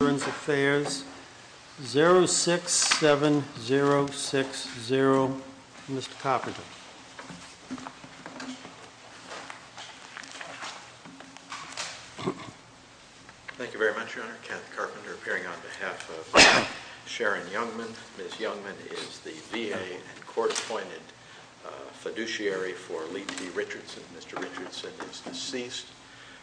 Burns Affairs, 067060, Mr. Carpenter. Thank you very much, Your Honor. Kenneth Carpenter appearing on behalf of Sharon Youngman. Ms. Youngman is the VA and court-appointed fiduciary for Lee T. Richardson. Mr. Richardson is deceased.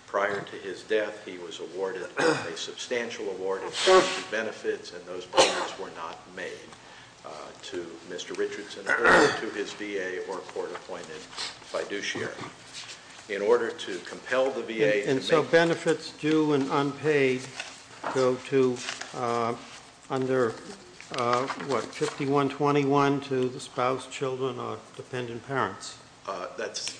Prior to his death, he was awarded a substantial award of benefits, and those benefits were not made to Mr. Richardson or to his VA or court-appointed fiduciary. In order to compel the VA to make— And so benefits due and unpaid go to under, what, 5121 to the spouse, children, or dependent parents? That's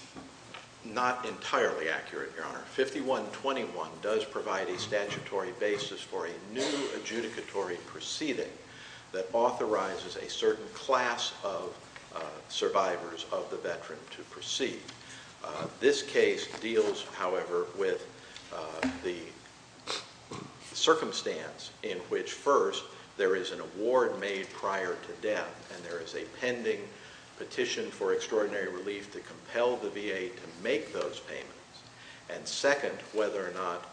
not entirely accurate, Your Honor. 5121 does provide a statutory basis for a new adjudicatory proceeding that authorizes a certain class of survivors of the veteran to proceed. This case deals, however, with the circumstance in which, first, there is an award made prior to death and there is a pending petition for extraordinary relief to compel the VA to make those payments, and second, whether or not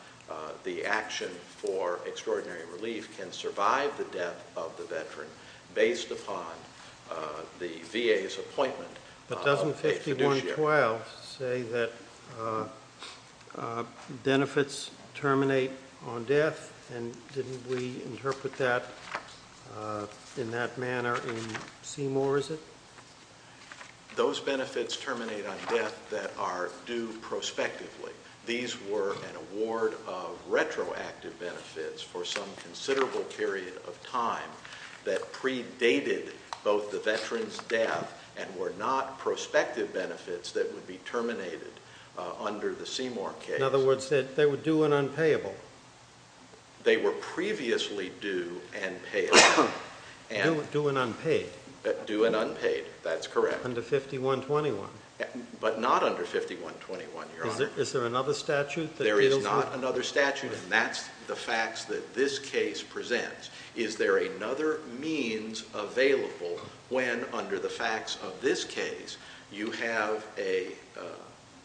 the action for extraordinary relief can survive the death of the veteran based upon the VA's appointment of a fiduciary. Did 5112 say that benefits terminate on death, and didn't we interpret that in that manner in Seymour, is it? Those benefits terminate on death that are due prospectively. These were an award of retroactive benefits for some considerable period of time that predated both the veteran's death and were not prospective benefits that would be terminated under the Seymour case. In other words, they were due and unpayable. They were previously due and payable. Due and unpaid. Due and unpaid, that's correct. Under 5121. But not under 5121, Your Honor. Is there another statute that deals with— There is not another statute, and that's the facts that this case presents. Is there another means available when, under the facts of this case, you have an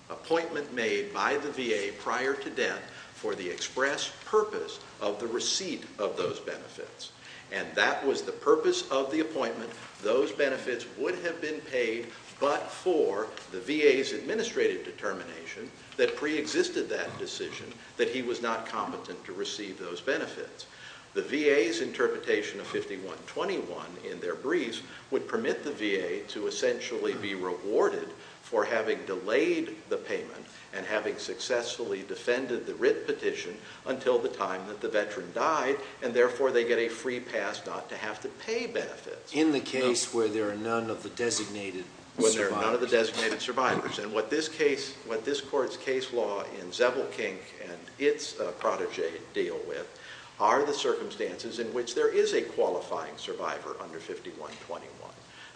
appointment made by the VA prior to death for the express purpose of the receipt of those benefits? And that was the purpose of the appointment. Those benefits would have been paid but for the VA's administrative determination that preexisted that decision, that he was not competent to receive those benefits. The VA's interpretation of 5121 in their briefs would permit the VA to essentially be rewarded for having delayed the payment and having successfully defended the writ petition until the time that the veteran died, and therefore they get a free pass not to have to pay benefits. In the case where there are none of the designated survivors. None of the designated survivors. And what this case, what this court's case law in Zebelkink and its protege deal with are the circumstances in which there is a qualifying survivor under 5121.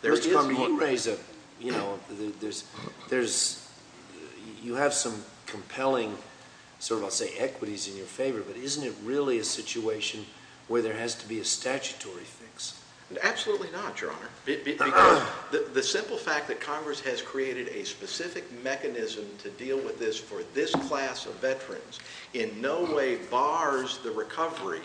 There is— You raise a, you know, there's, you have some compelling sort of, I'll say, equities in your favor, but isn't it really a situation where there has to be a statutory fix? Absolutely not, Your Honor. Because the simple fact that Congress has created a specific mechanism to deal with this for this class of veterans in no way bars the recovery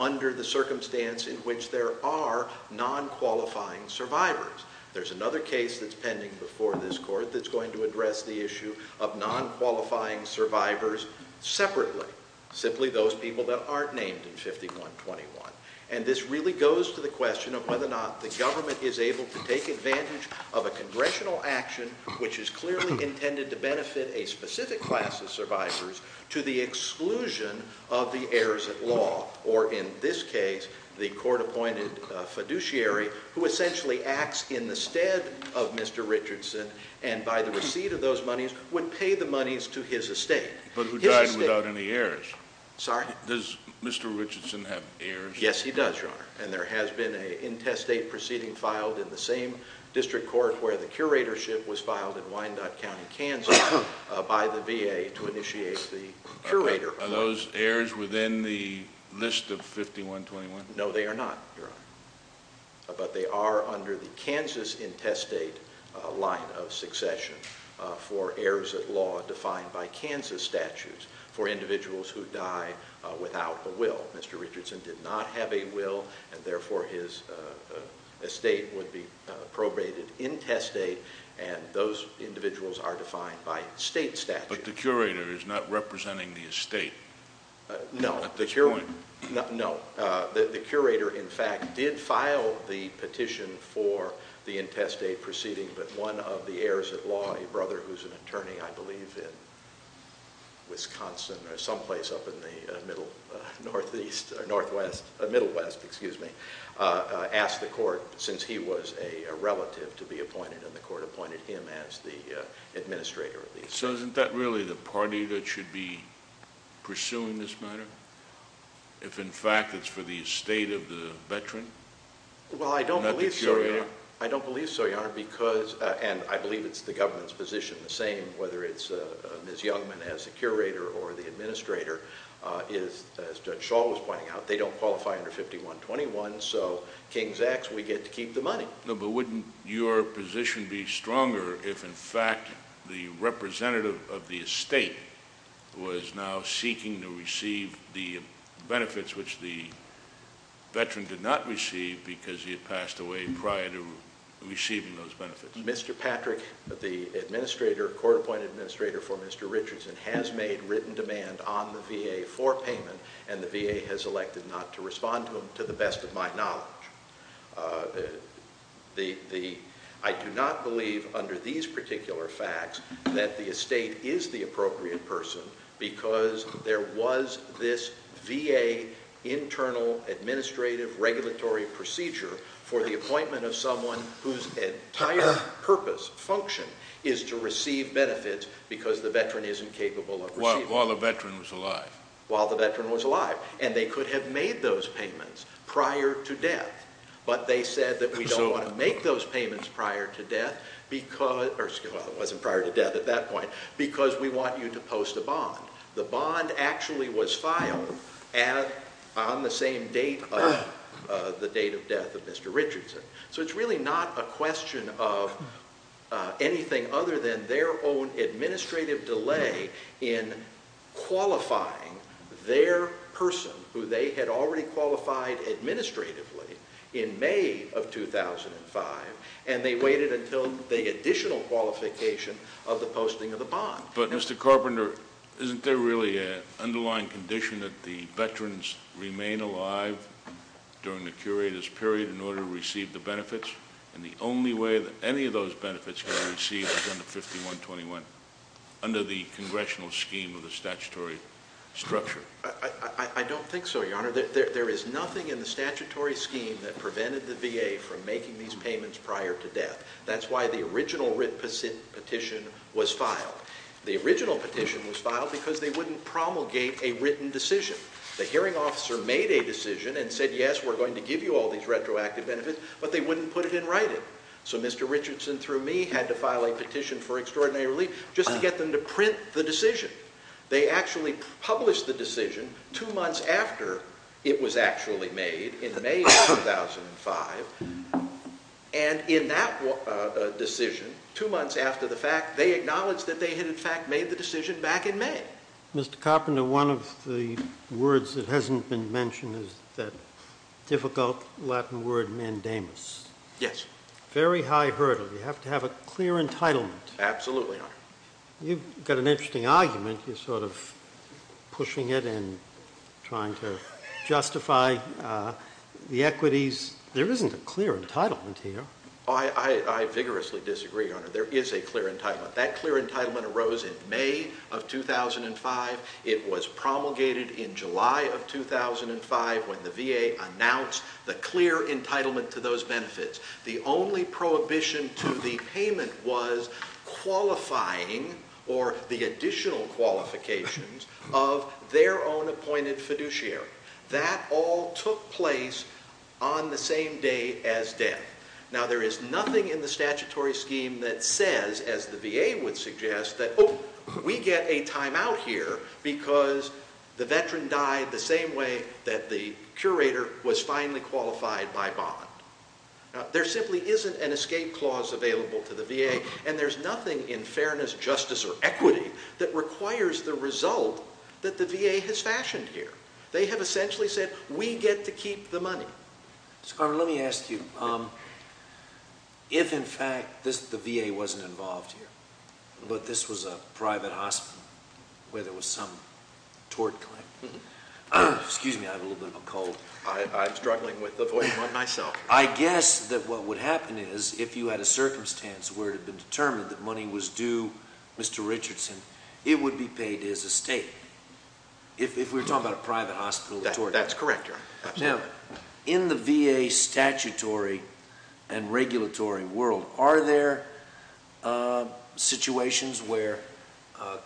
under the circumstance in which there are non-qualifying survivors. There's another case that's pending before this court that's going to address the issue of non-qualifying survivors separately. Simply those people that aren't named in 5121. And this really goes to the question of whether or not the government is able to take advantage of a congressional action which is clearly intended to benefit a specific class of survivors to the exclusion of the heirs at law. Or in this case, the court-appointed fiduciary who essentially acts in the stead of Mr. Richardson and by the receipt of those monies would pay the monies to his estate. But who died without any heirs. Sorry? Does Mr. Richardson have heirs? Yes, he does, Your Honor. And there has been an intestate proceeding filed in the same district court where the curatorship was filed in Wyandotte County, Kansas by the VA to initiate the curator. Are those heirs within the list of 5121? No, they are not, Your Honor. But they are under the Kansas intestate line of succession for heirs at law defined by Kansas statutes for individuals who die without a will. Mr. Richardson did not have a will and therefore his estate would be probated intestate and those individuals are defined by state statute. But the curator is not representing the estate at this point. No. No. The curator, in fact, did file the petition for the intestate proceeding, but one of the heirs at law, a brother who is an attorney, I believe, in Wisconsin or some place up in the Middle Northwest, asked the court since he was a relative to be appointed and the court appointed him as the administrator. So isn't that really the party that should be pursuing this matter? If, in fact, it's for the estate of the veteran? Well, I don't believe so, Your Honor. And I believe it's the government's position the same, whether it's Ms. Youngman as the curator or the administrator. As Judge Shaw was pointing out, they don't qualify under 5121, so King's X, we get to keep the money. No, but wouldn't your position be stronger if, in fact, the representative of the estate was now seeking to receive the benefits which the veteran did not receive because he had passed away prior to receiving those benefits? Mr. Patrick, the administrator, court-appointed administrator for Mr. Richardson, has made written demand on the VA for payment, and the VA has elected not to respond to him to the best of my knowledge. I do not believe under these particular facts that the estate is the appropriate person because there was this VA internal administrative regulatory procedure for the appointment of someone whose entire purpose, function, is to receive benefits because the veteran isn't capable of receiving them. While the veteran was alive? While the veteran was alive. And they could have made those payments prior to death, but they said that we don't want to make those payments prior to death because we want you to post a bond. The bond actually was filed on the same date of the date of death of Mr. Richardson. So it's really not a question of anything other than their own administrative delay in qualifying their person who they had already qualified administratively in May of 2005, and they waited until the additional qualification of the posting of the bond. But, Mr. Carpenter, isn't there really an underlying condition that the veterans remain alive during the curators' period in order to receive the benefits, and the only way that any of those benefits can be received is under 5121, under the congressional scheme of the statutory structure? I don't think so, Your Honor. There is nothing in the statutory scheme that prevented the VA from making these payments prior to death. That's why the original written petition was filed. The original petition was filed because they wouldn't promulgate a written decision. The hearing officer made a decision and said, yes, we're going to give you all these retroactive benefits, but they wouldn't put it in writing. So Mr. Richardson, through me, had to file a petition for extraordinary relief just to get them to print the decision. They actually published the decision two months after it was actually made in May of 2005, and in that decision, two months after the fact, they acknowledged that they had in fact made the decision back in May. Mr. Carpenter, one of the words that hasn't been mentioned is that difficult Latin word, mandamus. Yes. Very high hurdle. You have to have a clear entitlement. Absolutely, Your Honor. You've got an interesting argument. You're sort of pushing it and trying to justify the equities. There isn't a clear entitlement here. I vigorously disagree, Your Honor. There is a clear entitlement. That clear entitlement arose in May of 2005. It was promulgated in July of 2005 when the VA announced the clear entitlement to those benefits. The only prohibition to the payment was qualifying or the additional qualifications of their own appointed fiduciary. That all took place on the same day as death. Now, there is nothing in the statutory scheme that says, as the VA would suggest, that, oh, we get a timeout here because the veteran died the same way that the curator was finally qualified by bond. There simply isn't an escape clause available to the VA, and there's nothing in fairness, justice, or equity that requires the result that the VA has fashioned here. They have essentially said, we get to keep the money. Mr. Carpenter, let me ask you. If, in fact, the VA wasn't involved here, but this was a private hospital where there was some tort claim. Excuse me. I have a little bit of a cold. I'm struggling with the volume on myself. I guess that what would happen is if you had a circumstance where it had been determined that money was due Mr. Richardson, it would be paid as a state. That's correct, Your Honor. Now, in the VA statutory and regulatory world, are there situations where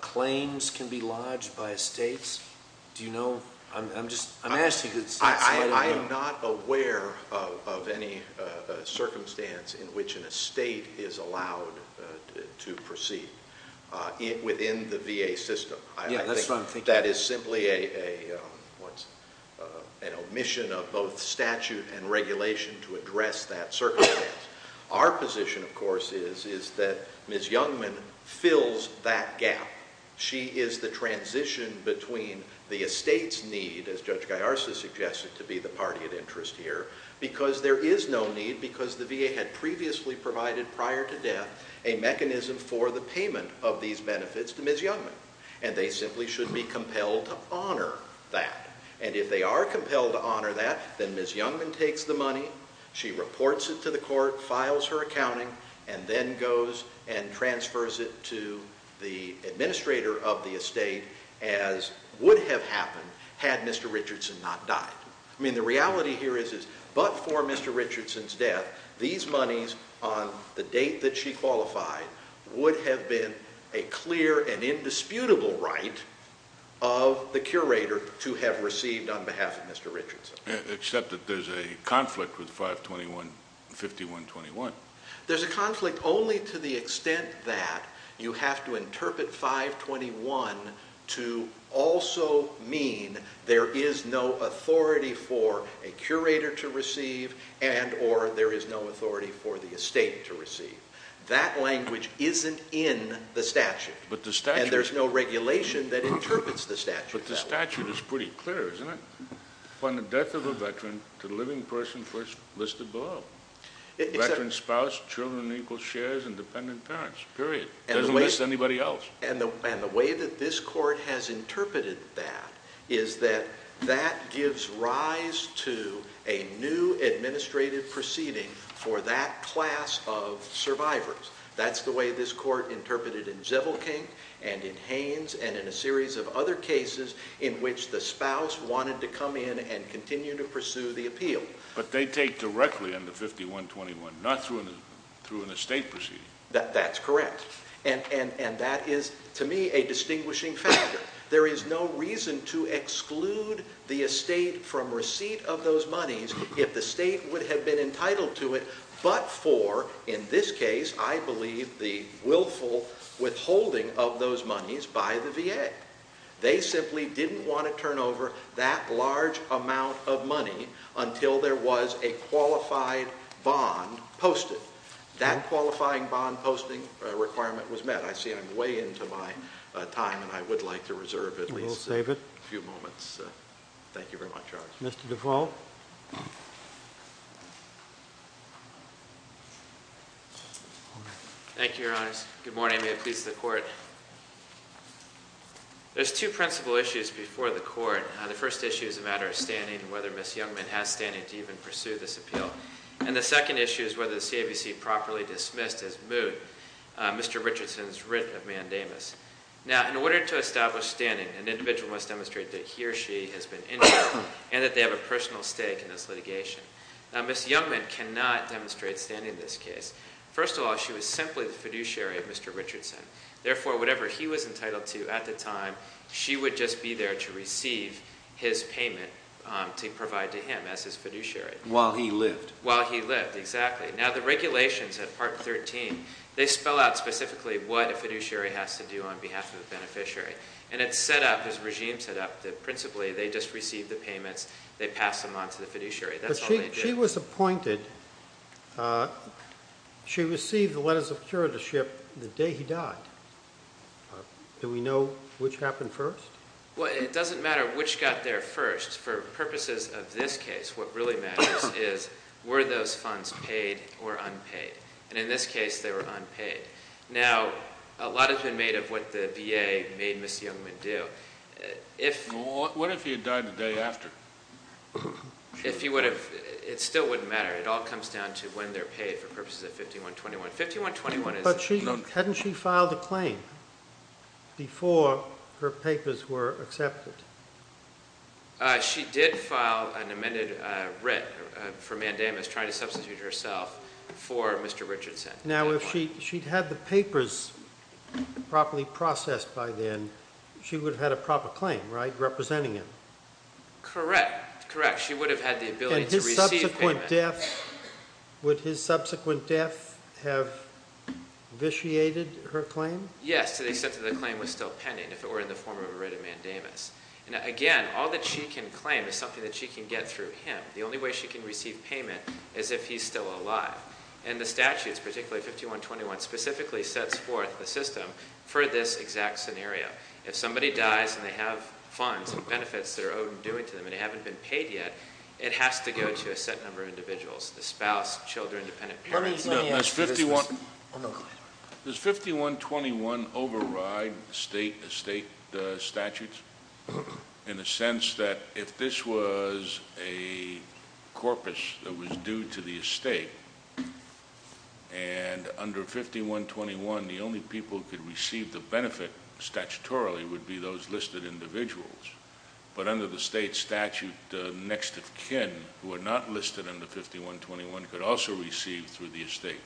claims can be lodged by states? Do you know? I'm asking because it seems slightly wrong. I am not aware of any circumstance in which a state is allowed to proceed within the VA system. Yeah, that's what I'm thinking. That is simply an omission of both statute and regulation to address that circumstance. Our position, of course, is that Ms. Youngman fills that gap. She is the transition between the estate's need, as Judge Gallarza suggested, to be the party of interest here, because there is no need because the VA had previously provided prior to death a mechanism for the payment of these benefits to Ms. Youngman. And they simply should be compelled to honor that. And if they are compelled to honor that, then Ms. Youngman takes the money, she reports it to the court, files her accounting, and then goes and transfers it to the administrator of the estate as would have happened had Mr. Richardson not died. I mean, the reality here is that but for Mr. Richardson's death, these monies on the date that she qualified would have been a clear and indisputable right of the curator to have received on behalf of Mr. Richardson. Except that there's a conflict with 521-5121. There's a conflict only to the extent that you have to interpret 521 to also mean there is no authority for a curator to receive and or there is no authority for the estate to receive. That language isn't in the statute. And there's no regulation that interprets the statute that way. But the statute is pretty clear, isn't it? Upon the death of a veteran, the living person first listed below. Veteran spouse, children in equal shares, and dependent parents, period. It doesn't list anybody else. And the way that this court has interpreted that is that that gives rise to a new administrative proceeding for that class of survivors. That's the way this court interpreted in Zevilkink and in Haynes and in a series of other cases in which the spouse wanted to come in and continue to pursue the appeal. But they take directly on the 5121, not through an estate proceeding. That's correct. And that is, to me, a distinguishing factor. There is no reason to exclude the estate from receipt of those monies if the state would have been entitled to it but for, in this case, I believe, the willful withholding of those monies by the VA. They simply didn't want to turn over that large amount of money until there was a qualified bond posted. That qualifying bond posting requirement was met. I see I'm way into my time, and I would like to reserve at least a few moments. Thank you very much, Your Honor. Mr. Duvall. Thank you, Your Honors. Good morning. May it please the Court. There's two principal issues before the Court. The first issue is a matter of standing and whether Ms. Youngman has standing to even pursue this appeal. And the second issue is whether the CAVC properly dismissed his moot. Mr. Richardson's writ of mandamus. Now, in order to establish standing, an individual must demonstrate that he or she has been injured and that they have a personal stake in this litigation. Now, Ms. Youngman cannot demonstrate standing in this case. First of all, she was simply the fiduciary of Mr. Richardson. Therefore, whatever he was entitled to at the time, she would just be there to receive his payment to provide to him as his fiduciary. While he lived. While he lived, exactly. Now, the regulations at Part 13, they spell out specifically what a fiduciary has to do on behalf of a beneficiary. And it's set up, as regimes set up, that principally they just receive the payments, they pass them on to the fiduciary. That's all they do. But she was appointed. She received the letters of curatorship the day he died. Do we know which happened first? Well, it doesn't matter which got there first. For purposes of this case, what really matters is were those funds paid or unpaid? And in this case, they were unpaid. Now, a lot has been made of what the VA made Ms. Youngman do. What if he had died the day after? If he would have, it still wouldn't matter. It all comes down to when they're paid for purposes of 5121. But hadn't she filed a claim before her papers were accepted? She did file an amended writ for mandamus trying to substitute herself for Mr. Richardson. Now, if she'd had the papers properly processed by then, she would have had a proper claim, right, representing him? Correct. Correct. She would have had the ability to receive payment. And his subsequent death, would his subsequent death have vitiated her claim? Yes, to the extent that the claim was still pending if it were in the form of a writ of mandamus. And again, all that she can claim is something that she can get through him. The only way she can receive payment is if he's still alive. And the statutes, particularly 5121, specifically sets forth the system for this exact scenario. If somebody dies and they have funds and benefits that are owed and due to them and they haven't been paid yet, it has to go to a set number of individuals, the spouse, children, dependent parents. Does 5121 override state statutes? In the sense that if this was a corpus that was due to the estate, and under 5121, the only people who could receive the benefit statutorily would be those listed individuals. But under the state statute, the next of kin who are not listed under 5121 could also receive through the estate.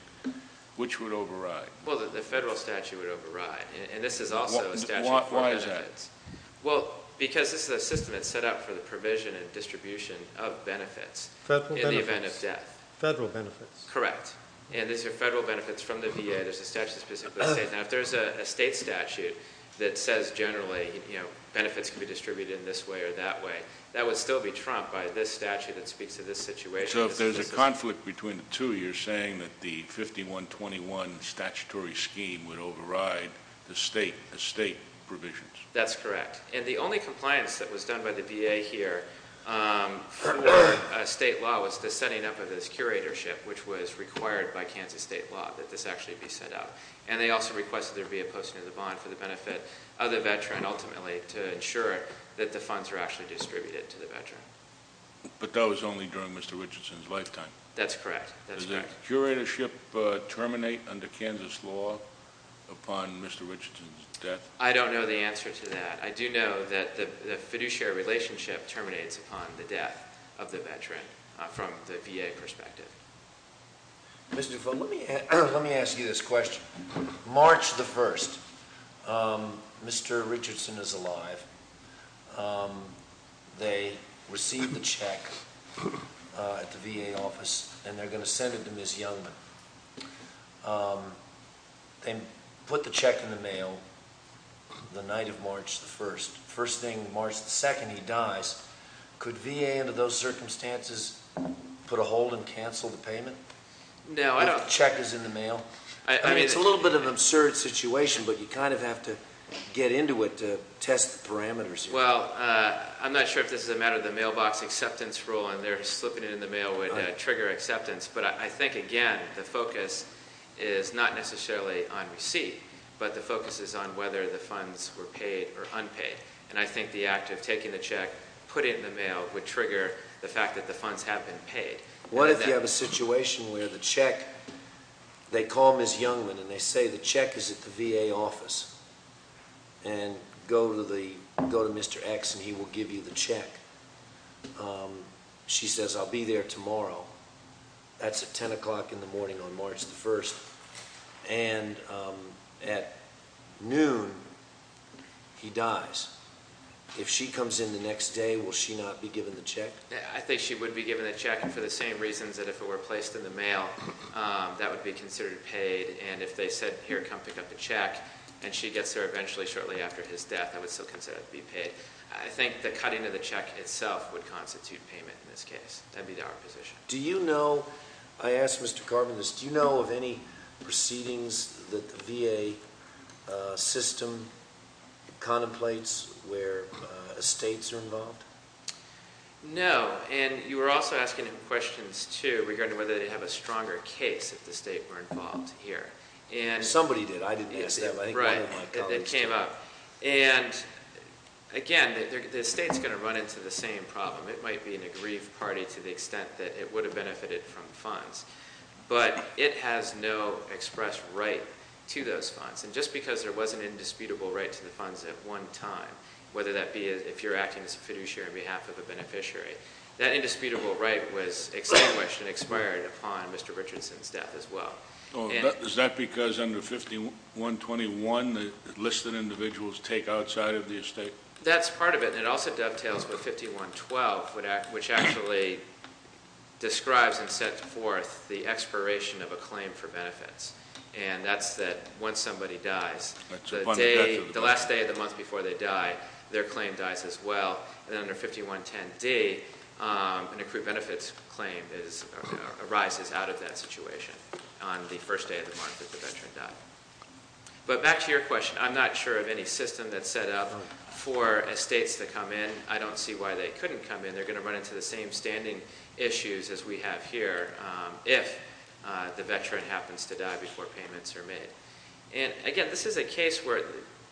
Which would override? Well, the federal statute would override. And this is also a statute for benefits. Why is that? Well, because this is a system that's set up for the provision and distribution of benefits in the event of death. Federal benefits. Federal benefits. Correct. And these are federal benefits from the VA. There's a statute that's specific to the state. Now, if there's a state statute that says generally benefits can be distributed this way or that way, that would still be trumped by this statute that speaks to this situation. So if there's a conflict between the two, you're saying that the 5121 statutory scheme would override the state provisions? That's correct. And the only compliance that was done by the VA here for state law was the setting up of this curatorship, which was required by Kansas state law that this actually be set up. And they also requested there be a posting of the bond for the benefit of the veteran, ultimately, to ensure that the funds were actually distributed to the veteran. But that was only during Mr. Richardson's lifetime? That's correct. Does the curatorship terminate under Kansas law upon Mr. Richardson's death? I don't know the answer to that. I do know that the fiduciary relationship terminates upon the death of the veteran from the VA perspective. Mr. Dufault, let me ask you this question. March the 1st, Mr. Richardson is alive. They received the check at the VA office, and they're going to send it to Ms. Youngman. They put the check in the mail the night of March the 1st. First thing, March the 2nd, he dies. Could VA, under those circumstances, put a hold and cancel the payment? No. If the check is in the mail? I mean, it's a little bit of an absurd situation, but you kind of have to get into it to test the parameters. Well, I'm not sure if this is a matter of the mailbox acceptance rule, and they're slipping it in the mail would trigger acceptance. But I think, again, the focus is not necessarily on receipt, but the focus is on whether the funds were paid or unpaid. And I think the act of taking the check, putting it in the mail would trigger the fact that the funds have been paid. What if you have a situation where the check, they call Ms. Youngman and they say the check is at the VA office, and go to Mr. X and he will give you the check? She says, I'll be there tomorrow. That's at 10 o'clock in the morning on March the 1st. And at noon, he dies. If she comes in the next day, will she not be given the check? I think she would be given the check for the same reasons that if it were placed in the mail, that would be considered paid. And if they said, here, come pick up the check, and she gets there eventually shortly after his death, that would still consider it to be paid. I think the cutting of the check itself would constitute payment in this case. That would be our position. Do you know, I asked Mr. Carbonis, do you know of any proceedings that the VA system contemplates where estates are involved? No. And you were also asking him questions, too, regarding whether they have a stronger case if the state were involved here. Somebody did. I didn't ask that, but I think one of my colleagues did. Right. It came up. And, again, the state is going to run into the same problem. It might be an aggrieved party to the extent that it would have benefited from funds. But it has no express right to those funds. And just because there was an indisputable right to the funds at one time, whether that be if you're acting as a fiduciary on behalf of a beneficiary, that indisputable right was extinguished and expired upon Mr. Richardson's death as well. Is that because under 5121, the listed individuals take outside of the estate? That's part of it. And it also dovetails with 5112, which actually describes and sets forth the expiration of a claim for benefits. And that's that once somebody dies, the last day of the month before they die, their claim dies as well. And under 5110D, an accrued benefits claim arises out of that situation on the first day of the month that the veteran died. But back to your question. I'm not sure of any system that's set up for estates to come in. I don't see why they couldn't come in. They're going to run into the same standing issues as we have here if the veteran happens to die before payments are made. And, again, this is a case where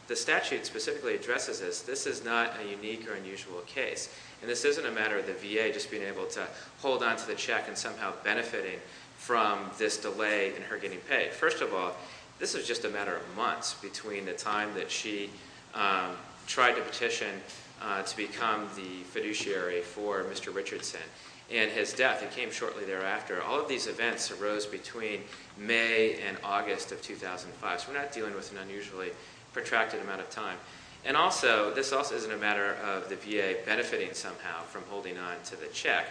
the statute specifically addresses this. This is not a unique or unusual case. And this isn't a matter of the VA just being able to hold on to the check and somehow benefiting from this delay in her getting paid. First of all, this is just a matter of months between the time that she tried to petition to become the fiduciary for Mr. Richardson and his death. It came shortly thereafter. All of these events arose between May and August of 2005, so we're not dealing with an unusually protracted amount of time. And also, this also isn't a matter of the VA benefiting somehow from holding on to the check.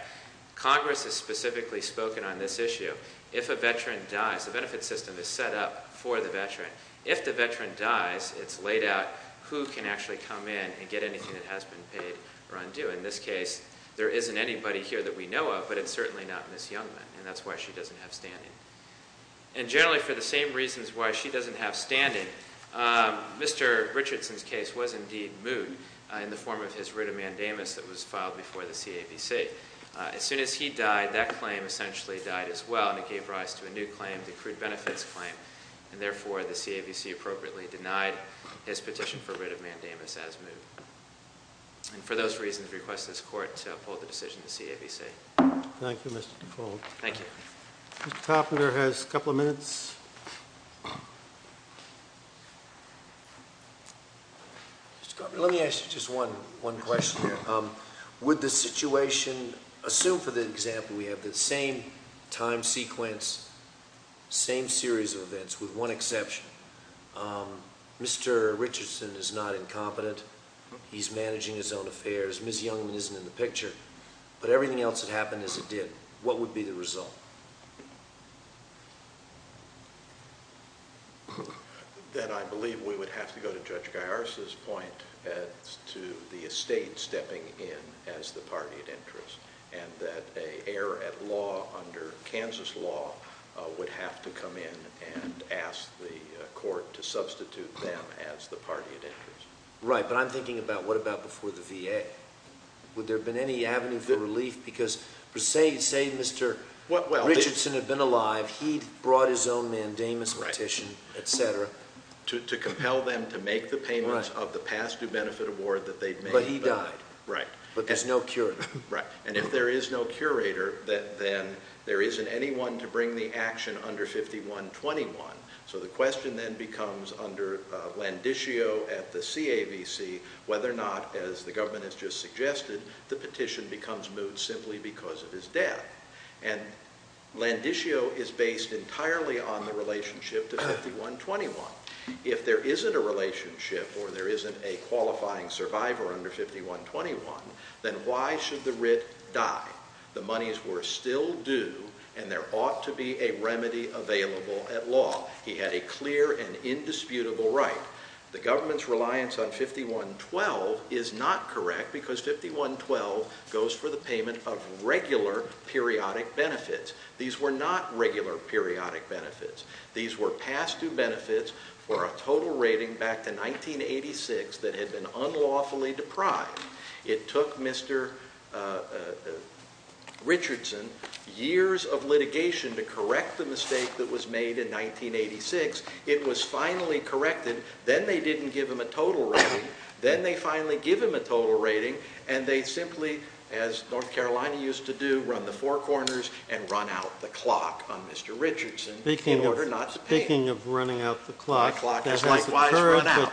Congress has specifically spoken on this issue. If a veteran dies, the benefit system is set up for the veteran. If the veteran dies, it's laid out who can actually come in and get anything that has been paid or undue. In this case, there isn't anybody here that we know of, but it's certainly not Ms. Youngman, and that's why she doesn't have standing. And generally, for the same reasons why she doesn't have standing, Mr. Richardson's case was indeed moot in the form of his writ of mandamus that was filed before the CABC. As soon as he died, that claim essentially died as well, and it gave rise to a new claim, the accrued benefits claim. And therefore, the CABC appropriately denied his petition for writ of mandamus as moot. And for those reasons, we request this Court to uphold the decision of the CABC. Thank you, Mr. Cole. Thank you. Mr. Topner has a couple of minutes. Let me ask you just one question here. Would the situation, assume for the example we have, the same time sequence, same series of events, with one exception. Mr. Richardson is not incompetent. He's managing his own affairs. Ms. Youngman isn't in the picture. But everything else that happened is it did. What would be the result? That I believe we would have to go to Judge Garris' point as to the estate stepping in as the party of interest. And that an heir at law under Kansas law would have to come in and ask the Court to substitute them as the party of interest. Right. But I'm thinking about what about before the VA? Would there have been any avenue for relief? Because say Mr. Richardson had been alive. He'd brought his own mandamus petition, et cetera. To compel them to make the payments of the past due benefit award that they'd made. But he died. Right. But there's no curator. Right. And if there is no curator, then there isn't anyone to bring the action under 5121. So the question then becomes under Landiscio at the CAVC whether or not, as the government has just suggested, the petition becomes moot simply because of his death. And Landiscio is based entirely on the relationship to 5121. If there isn't a relationship or there isn't a qualifying survivor under 5121, then why should the writ die? The monies were still due and there ought to be a remedy available at law. He had a clear and indisputable right. The government's reliance on 5112 is not correct because 5112 goes for the payment of regular periodic benefits. These were not regular periodic benefits. These were past due benefits for a total rating back to 1986 that had been unlawfully deprived. It took Mr. Richardson years of litigation to correct the mistake that was made in 1986. It was finally corrected. Then they didn't give him a total rating. Then they finally give him a total rating, and they simply, as North Carolina used to do, run the four corners and run out the clock on Mr. Richardson in order not to pay him. My clock has likewise run out.